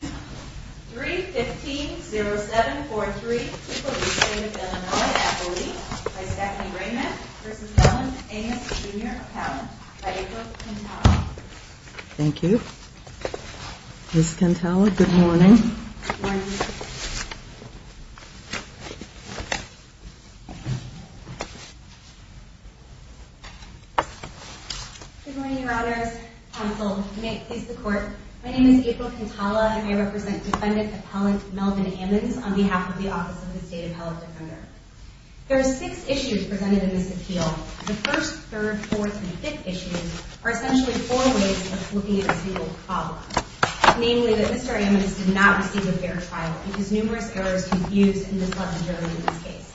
3-15-0743, People of the State of Illinois, Appalachia, by Stephanie Raymond v. Allen v. Ammons, Jr., Appalachia, by April Quintala Thank you. Ms. Quintala, good morning. Good morning. My name is April Quintala and I represent Defendant Appellant Melvin Ammons on behalf of the Office of the State Appellant Defender. There are six issues presented in this appeal. The first, third, fourth, and fifth issues are essentially four ways of looking at a single problem, namely that Mr. Ammons did not receive a fair trial because numerous errors confuse and disrupt the jury in this case.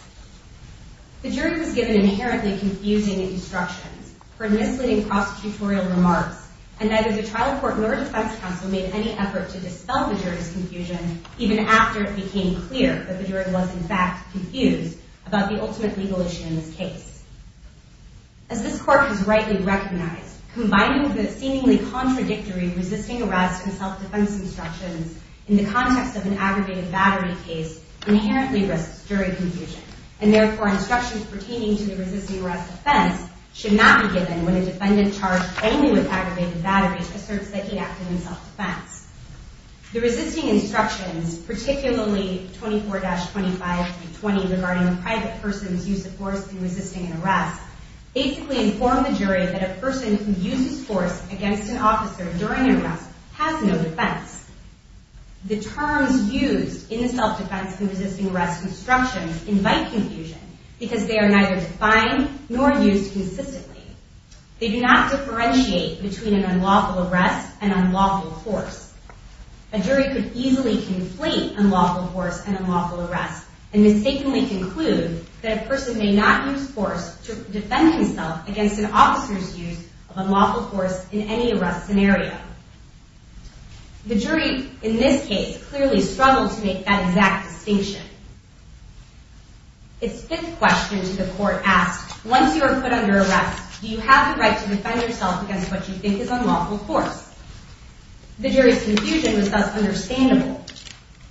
The jury was given inherently confusing instructions for misleading prosecutorial remarks, and neither the trial court nor defense counsel made any effort to dispel the jury's confusion even after it became clear that the jury was, in fact, confused about the ultimate legal issue in this case. As this court has rightly recognized, combining the seemingly contradictory resisting arrest and self-defense instructions in the context of an aggravated battery case inherently risks jury confusion, and therefore instructions pertaining to the resisting arrest offense should not be given when a defendant charged only with aggravated battery asserts that he acted in self-defense. The resisting instructions, particularly 24-25-20 regarding a private person's use of force in resisting an arrest, basically inform the jury that a person who uses force against an officer during an arrest has no defense. The terms used in the self-defense and resisting arrest instructions invite confusion because they are neither defined nor used consistently. They do not differentiate between an unlawful arrest and unlawful force. A jury could easily conflate unlawful force and unlawful arrest and mistakenly conclude that a person may not use force to defend himself against an officer's use of unlawful force in any arrest scenario. The jury in this case clearly struggled to make that exact distinction. Its fifth question to the court asked, once you are put under arrest, do you have the right to defend yourself against what you think is unlawful force? The jury's confusion was thus understandable.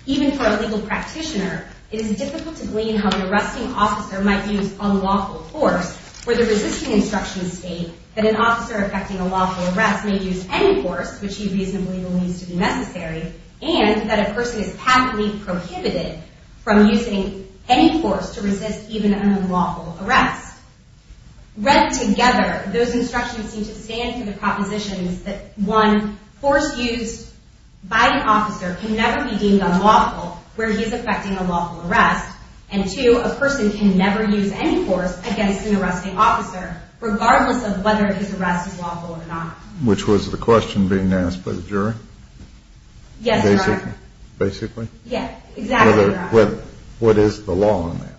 Even for a legal practitioner, it is difficult to glean how an arresting officer might use unlawful force where the resisting instructions state that an officer affecting a lawful arrest may use any force which he reasonably believes to be necessary and that a person is patently prohibited. from using any force to resist even an unlawful arrest. Read together, those instructions seem to stand for the propositions that one, force used by an officer can never be deemed unlawful where he is affecting a lawful arrest and two, a person can never use any force against an arresting officer regardless of whether his arrest is lawful or not. Which was the question being asked by the jury? Yes, Your Honor. Basically? Yeah, exactly. What is the law on that?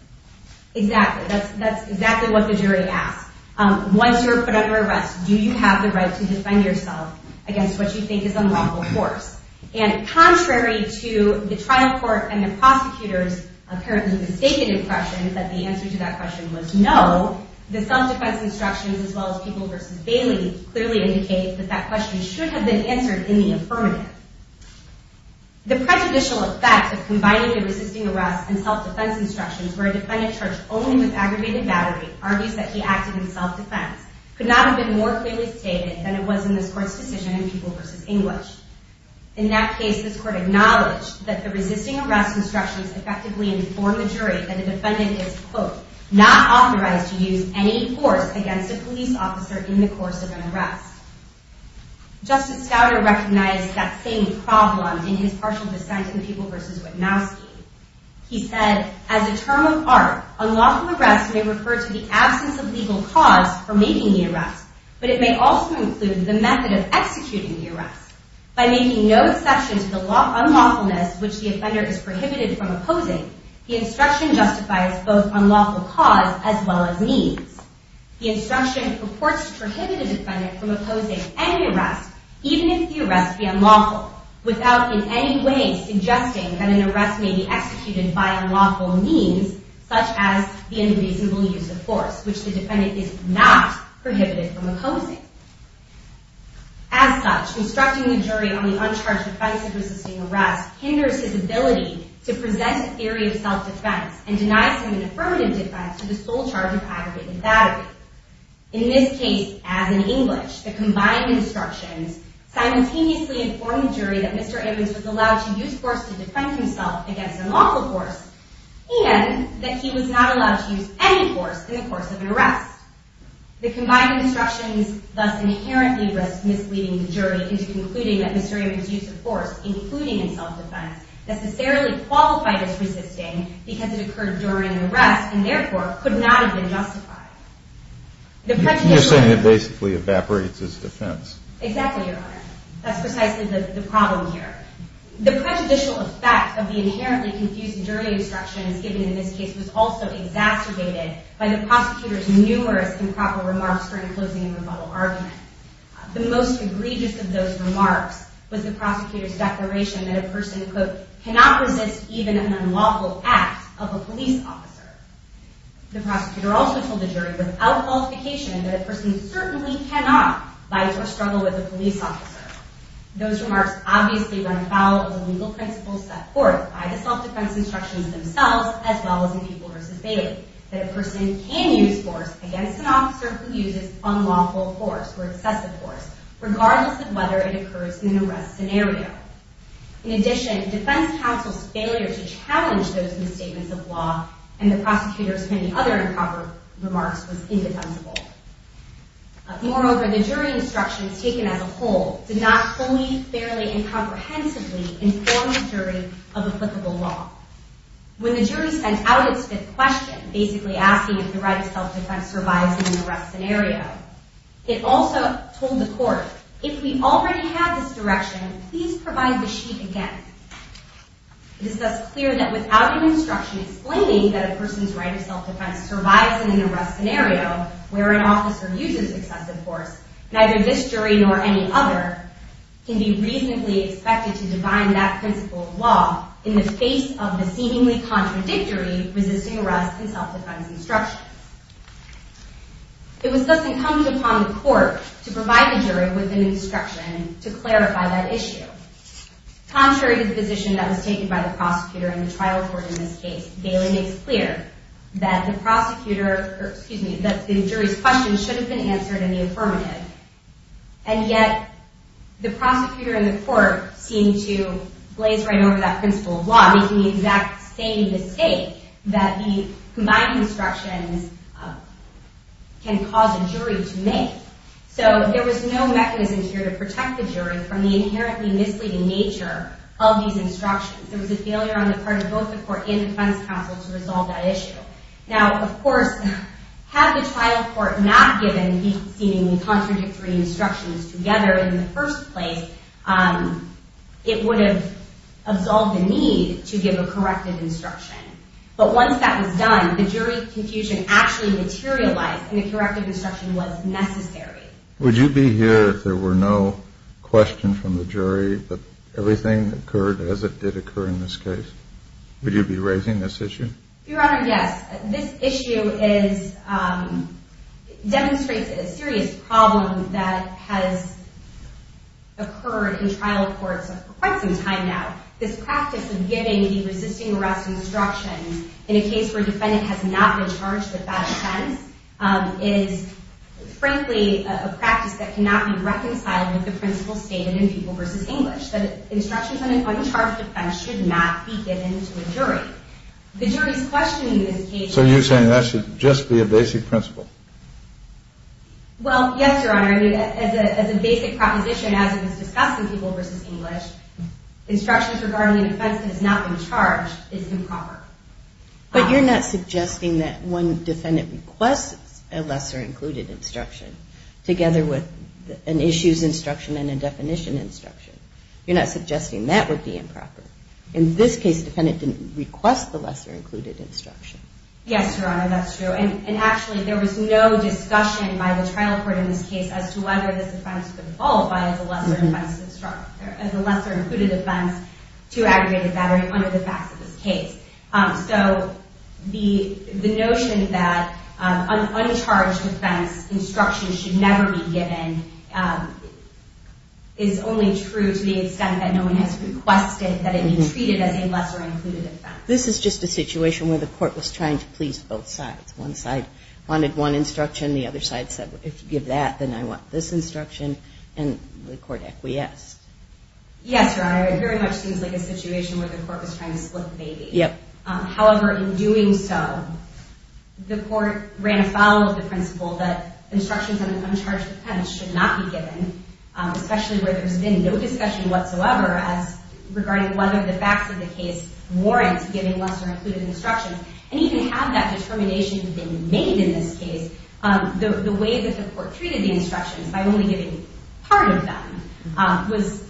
Exactly, that's exactly what the jury asked. Once you are put under arrest, do you have the right to defend yourself against what you think is unlawful force? And contrary to the trial court and the prosecutor's apparently mistaken impression that the answer to that question was no, the self-defense instructions as well as People v. Bailey clearly indicate that that question should have been answered in the affirmative. The prejudicial effect of combining the resisting arrest and self-defense instructions where a defendant charged only with aggravated battery argues that he acted in self-defense could not have been more clearly stated than it was in this court's decision in People v. English. In that case, this court acknowledged that the resisting arrest instructions effectively informed the jury that the defendant is, quote, not authorized to use any force against a police officer in the course of an arrest. Justice Gouder recognized that same problem in his partial dissent in People v. Witnowski. He said, as a term of art, unlawful arrest may refer to the absence of legal cause for making the arrest, but it may also include the method of executing the arrest. By making no exception to the unlawfulness which the offender is prohibited from opposing, the instruction justifies both unlawful cause as well as means. The instruction purports to prohibit a defendant from opposing any arrest, even if the arrest be unlawful, without in any way suggesting that an arrest may be executed by unlawful means, such as the unreasonable use of force, which the defendant is not prohibited from opposing. As such, instructing the jury on the uncharged defense of resisting arrest hinders his ability to present a theory of self-defense and denies him an affirmative defense to the sole charge of aggravated battery. In this case, as in English, the combined instructions simultaneously inform the jury that Mr. Ammons was allowed to use force to defend himself against unlawful force and that he was not allowed to use any force in the course of an arrest. The combined instructions thus inherently risk misleading the jury into concluding that Mr. Ammons' use of force, including in self-defense, necessarily qualified as resisting because it occurred during an arrest and therefore could not have been justified. The prejudicial... You're saying it basically evaporates as defense. Exactly, Your Honor. That's precisely the problem here. The prejudicial effect of the inherently confused jury instructions given in this case was also exacerbated by the prosecutor's numerous improper remarks during the closing and rebuttal argument. The most egregious of those remarks was the prosecutor's declaration that a person could not resist even an unlawful act of a police officer. The prosecutor also told the jury without qualification that a person certainly cannot fight or struggle with a police officer. Those remarks obviously run afoul of the legal principles set forth by the self-defense instructions themselves as well as in Beeble v. Bailey that a person can use force against an officer who uses unlawful force or excessive force regardless of whether it occurs in an arrest scenario. In addition, defense counsel's failure to challenge those misstatements of law and the prosecutor's many other improper remarks was indefensible. Moreover, the jury instructions taken as a whole did not fully, fairly, and comprehensively inform the jury of applicable law. When the jury sent out its fifth question, basically asking if the right of self-defense survives in an arrest scenario, it also told the court, if we already have this direction, please provide the sheet again. It is thus clear that without an instruction explaining that a person's right of self-defense survives in an arrest scenario where an officer uses excessive force, neither this jury nor any other can be reasonably expected to define that principle of law in the face of the seemingly contradictory resisting arrest and self-defense instructions. It was thus incumbent upon the court to provide the jury with an instruction to clarify that issue. Contrary to the position that was taken by the prosecutor and the trial court in this case, Bailey makes clear that the jury's questions should have been answered in the affirmative, and yet the prosecutor and the court seem to blaze right over that principle of law, making the exact same mistake that the combined instructions can cause a jury to make. So there was no mechanism here to protect the jury from the inherently misleading nature of these instructions. There was a failure on the part of both the court and defense counsel to resolve that issue. Now, of course, had the trial court not given these seemingly contradictory instructions together in the first place, it would have absolved the need to give a corrective instruction. But once that was done, the jury confusion actually materialized, and a corrective instruction was necessary. Would you be here if there were no question from the jury that everything occurred as it did occur in this case? Would you be raising this issue? Your Honor, yes. This issue demonstrates a serious problem that has occurred in trial courts for quite some time now. This practice of giving the resisting arrest instructions in a case where a defendant has not been charged with that offense is frankly a practice that cannot be reconciled with the principle stated in People v. English that instructions on an uncharged offense should not be given to a jury. The jury's questioning this case. So you're saying that should just be a basic principle? Well, yes, Your Honor. As a basic proposition, as it was discussed in People v. English, instructions regarding an offense that has not been charged is improper. But you're not suggesting that one defendant requests a lesser included instruction together with an issues instruction and a definition instruction. You're not suggesting that would be improper. In this case, the defendant didn't request the lesser included instruction. Yes, Your Honor, that's true. And actually there was no discussion by the trial court in this case as to whether this offense could qualify as a lesser included offense to aggravated battery under the facts of this case. So the notion that an uncharged offense instruction should never be given is only true to the extent that no one has requested that it be treated as a lesser included offense. This is just a situation where the court was trying to please both sides. One side wanted one instruction. The other side said, if you give that, then I want this instruction. And the court acquiesced. Yes, Your Honor. It very much seems like a situation where the court was trying to split the baby. However, in doing so, the court ran afoul of the principle that instructions on an uncharged offense should not be given, especially where there's been no discussion whatsoever regarding whether the facts of the case warrant giving lesser included instructions. And even had that determination been made in this case, the way that the court treated the instructions, by only giving part of them, was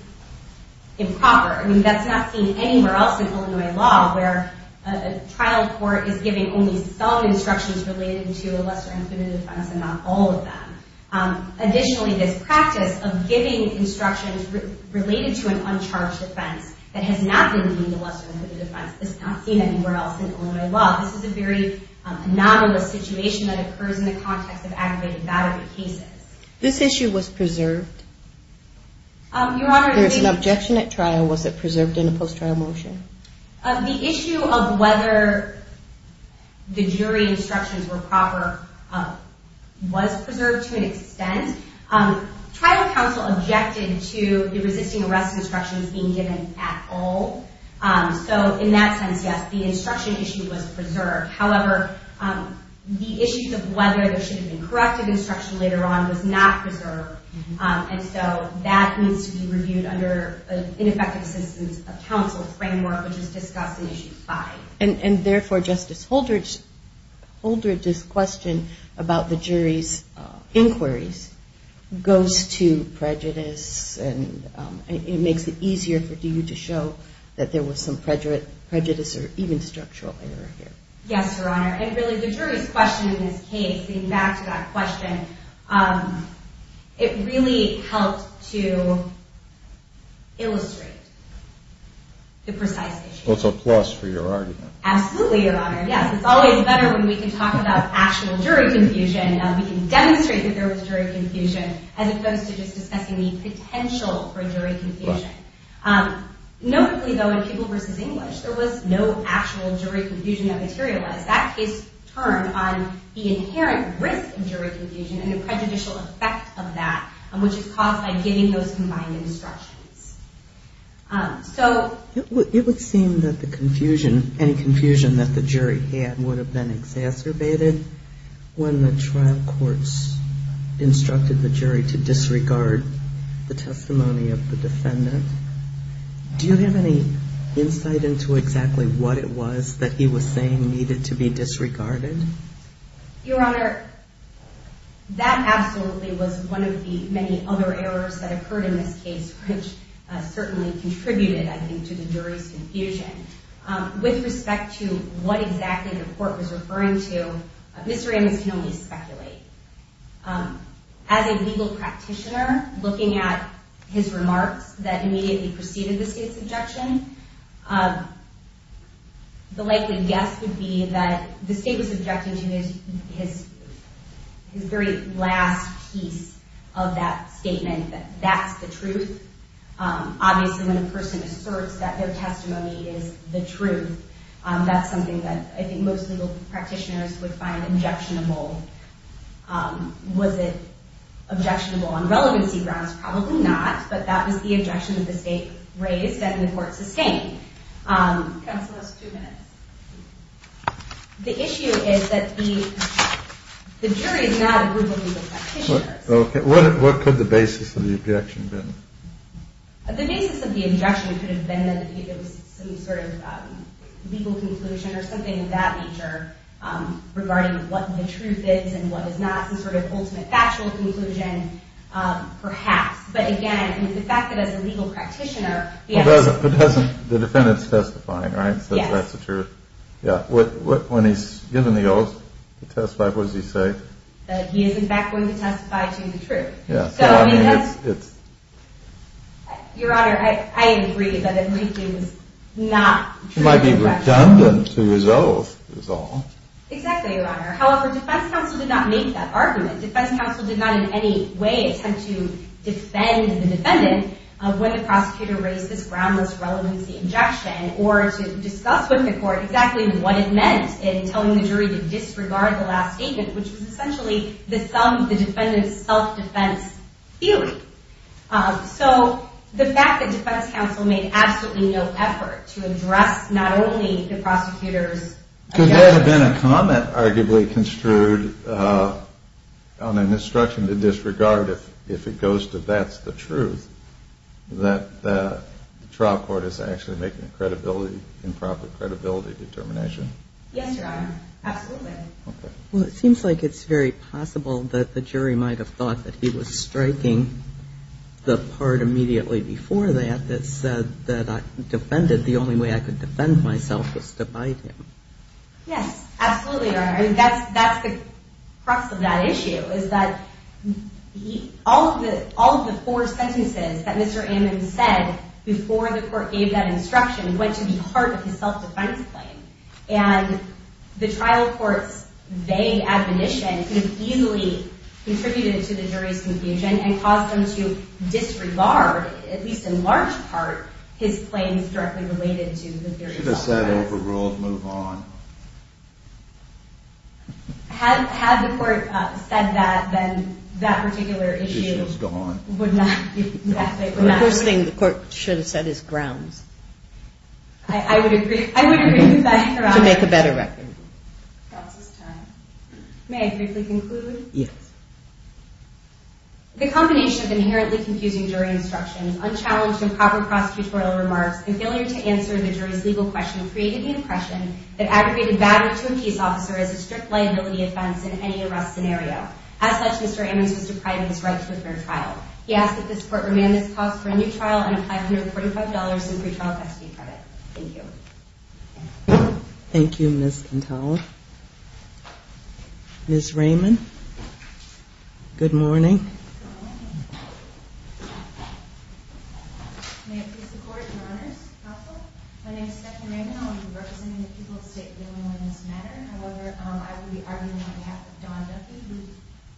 improper. I mean, that's not seen anywhere else in Illinois law where a trial court is giving only some instructions related to a lesser included offense and not all of them. Additionally, this practice of giving instructions related to an uncharged offense that has not been deemed a lesser included offense is not seen anywhere else in Illinois law. This is a very anomalous situation that occurs in the context of aggravated battery cases. This issue was preserved? Your Honor, I think... There was an objection at trial. Was it preserved in a post-trial motion? The issue of whether the jury instructions were proper was preserved to an extent. Trial counsel objected to the resisting arrest instructions being given at all. So, in that sense, yes, the instruction issue was preserved. However, the issue of whether there should have been corrected instruction later on was not preserved. And so, that needs to be reviewed under an ineffective systems of counsel framework, which is discussed in Issue 5. And therefore, Justice Holdred's question about the jury's inquiries goes to prejudice and it makes it easier for DU to show that there was some prejudice or even structural error here. Yes, Your Honor. And really, the jury's question in this case, getting back to that question, it really helped to illustrate the precise issue. Well, it's a plus for your argument. Absolutely, Your Honor. Yes, it's always better when we can talk about actual jury confusion. We can demonstrate that there was jury confusion as opposed to just discussing the potential for jury confusion. Notably, though, in People v. English, there was no actual jury confusion that materialized. That case turned on the inherent risk of jury confusion and the prejudicial effect of that, which is caused by giving those combined instructions. It would seem that the confusion, any confusion that the jury had would have been exacerbated when the trial courts instructed the jury to disregard the testimony of the defendant. Do you have any insight into exactly what it was that he was saying needed to be disregarded? Your Honor, that absolutely was one of the many other errors that occurred in this case, which certainly contributed, I think, to the jury's confusion. With respect to what exactly the court was referring to, Mr. Amos can only speculate. As a legal practitioner, looking at his remarks that immediately preceded the State's objection, the likely guess would be that the State was objecting to his very last piece of that statement, that that's the truth. Obviously, when a person asserts that their testimony is the truth, that's something that I think most legal practitioners would find objectionable. Was it objectionable on relevancy grounds? Probably not, but that was the objection that the State raised that the court sustained. Counsel, just two minutes. The issue is that the jury is not a group of legal practitioners. Okay, what could the basis of the objection have been? The basis of the objection could have been that it was some sort of legal conclusion or something of that nature, regarding what the truth is and what is not, some sort of ultimate factual conclusion, perhaps. But again, the fact that as a legal practitioner... But the defendant's testifying, right? So that's the truth. When he's given the oath to testify, what does he say? That he is, in fact, going to testify to the truth. So, I mean, it's... Your Honor, I agree that at least it was not true. It might be redundant to his oath, is all. Exactly, Your Honor. However, defense counsel did not make that argument. Defense counsel did not in any way attempt to defend the defendant when the prosecutor raised this groundless relevancy objection or to discuss with the court exactly what it meant in telling the jury to disregard the last statement, which was essentially the sum of the defendant's self-defense theory. So the fact that defense counsel made absolutely no effort to address not only the prosecutor's objection... Could there have been a comment arguably construed on an instruction to disregard if it goes to that's the truth, that the trial court is actually making credibility, improper credibility determination? Yes, Your Honor. Absolutely. Well, it seems like it's very possible that the jury might have thought that he was striking the part immediately before that that said that I defended... The only way I could defend myself was to bite him. Yes, absolutely, Your Honor. That's the crux of that issue is that all of the four sentences that Mr. Ammon said before the court gave that instruction went to the heart of his self-defense claim. And the trial court's vague admonition could have easily contributed to the jury's confusion and caused them to disregard, at least in large part, his claims directly related to the theory of self-defense. Should have said overruled, move on. Had the court said that, then that particular issue... Issue was gone. The first thing the court should have said is grounds. I would agree with that, Your Honor. To make a better record. May I briefly conclude? Yes. The combination of inherently confusing jury instructions, unchallenged and improper prosecutorial remarks, and failure to answer the jury's legal question created the impression that aggregated badly to a peace officer is a strict liability offense in any arrest scenario. As such, Mr. Ammons was deprived of his right to a fair trial. He asked that this court remand this cause for a new trial and apply for $145 in pretrial custody credit. Thank you. Thank you, Ms. Contello. Ms. Raymond. Good morning. Good morning. May it please the Court and Honors. My name is Stephanie Raymond. I will be representing the people of the state in this matter. However, I will be arguing on behalf of Dawn Duffy, who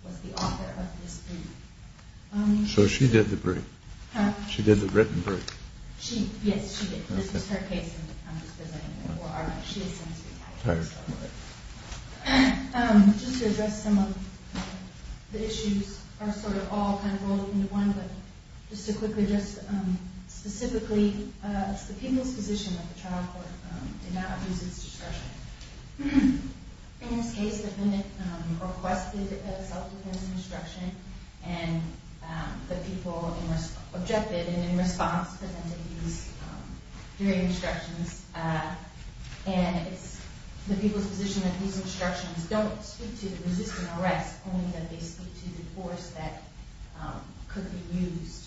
was the author of this brief. So she did the brief? Huh? She did the written brief. Yes, she did. This is her case, and I'm just presenting it for argument. All right. Just to address some of the issues are sort of all kind of rolled into one, but just to quickly just specifically, it's the people's position that the trial court did not use its discretion. In this case, the defendant requested a self-defense instruction, and the people objected and in response presented these jury instructions. And it's the people's position that these instructions don't speak to resisting arrest, only that they speak to the force that could be used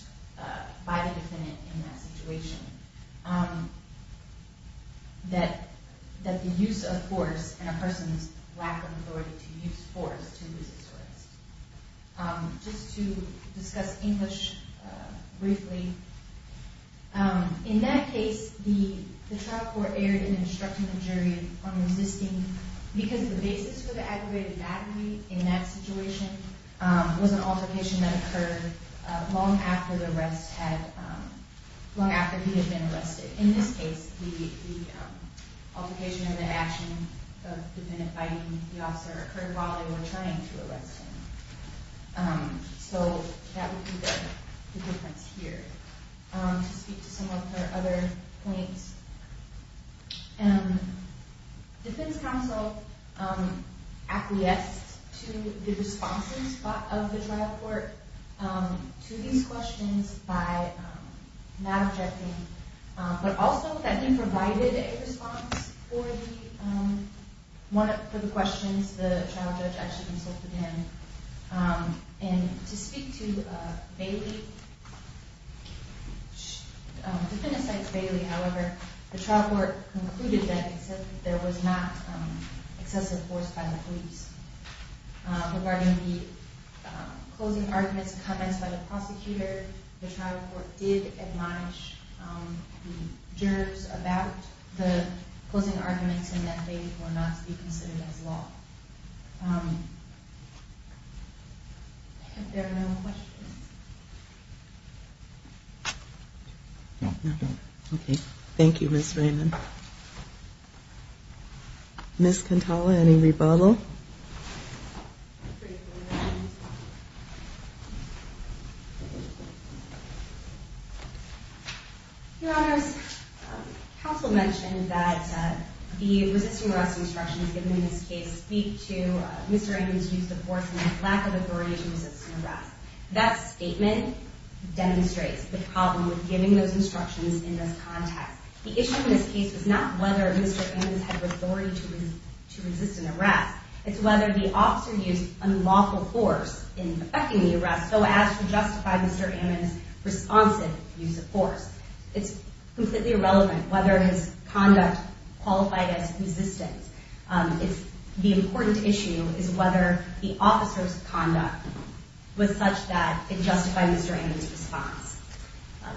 by the defendant in that situation, that the use of force and a person's lack of authority to use force to resist arrest. Just to discuss English briefly, in that case, the trial court erred in instructing the jury on resisting because the basis for the aggravated battery in that situation was an altercation that occurred long after he had been arrested. In this case, the altercation and the action of the defendant fighting the officer occurred while they were trying to arrest him. So that would be the difference here. To speak to some of the other points, defense counsel acquiesced to the responses of the trial court to these questions by not objecting, but also the defendant provided a response for the questions the trial judge actually consulted him. And to speak to Bailey, the defendant cites Bailey, however, the trial court concluded that there was not excessive force by the police. Regarding the closing arguments and comments by the prosecutor, the trial court did admonish the jurors about the closing arguments and that they were not to be considered as law. Are there no other questions? Thank you, Ms. Raymond. Ms. Cantala, any rebuttal? Your Honor, counsel mentioned that the resisting arrest instructions given in this case speak to Mr. Raymond's use of force and his lack of authority to resist an arrest. That statement demonstrates the problem with giving those instructions in this context. The issue in this case is not whether Mr. Raymond had the authority to resist an arrest, it's whether the officer used unlawful force in effecting the arrest, so as to justify Mr. Raymond's responsive use of force. It's completely irrelevant whether his conduct qualified as resistance. The important issue is whether the officer's conduct was such that it justified Mr. Raymond's response.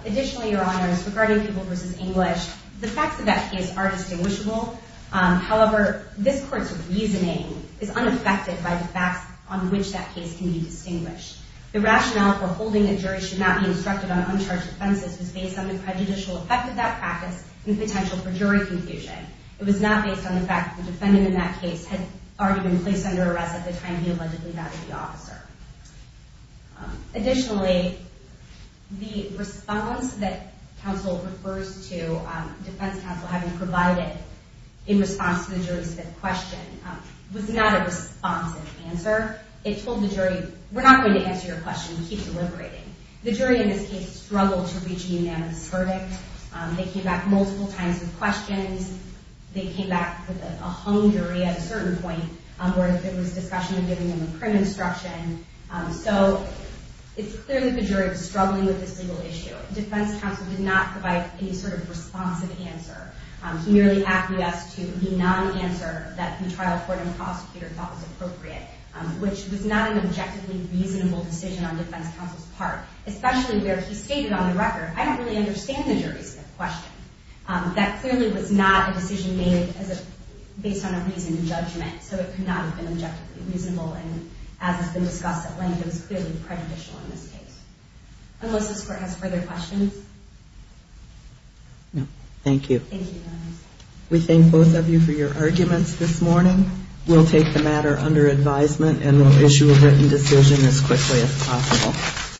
Additionally, Your Honor, regarding people versus English, the facts of that case are distinguishable. However, this court's reasoning is unaffected by the facts on which that case can be distinguished. The rationale for holding a jury should not be instructed on uncharged offenses was based on the prejudicial effect of that practice and the potential for jury confusion. It was not based on the fact that the defendant in that case had already been placed under arrest at the time he allegedly got to the officer. Additionally, the response that counsel refers to, defense counsel having provided in response to the jury's fifth question, was not a responsive answer. It told the jury, we're not going to answer your question, keep deliberating. The jury in this case struggled to reach a unanimous verdict. They came back multiple times with questions. They came back with a hung jury at a certain point, where there was discussion of giving them a print instruction. So it's clear that the jury was struggling with this legal issue. Defense counsel did not provide any sort of responsive answer. He merely asked us to be non-answer that the trial court and prosecutor thought was appropriate, which was not an objectively reasonable decision on defense counsel's part, especially where he stated on the record, I don't really understand the jury's fifth question. That clearly was not a decision made based on a reasonable judgment, so it could not have been objectively reasonable, and as has been discussed at length, it was clearly prejudicial in this case. Unless this court has further questions. No. Thank you. Thank you. We thank both of you for your arguments this morning. We'll take the matter under advisement and we'll issue a written decision as quickly as possible.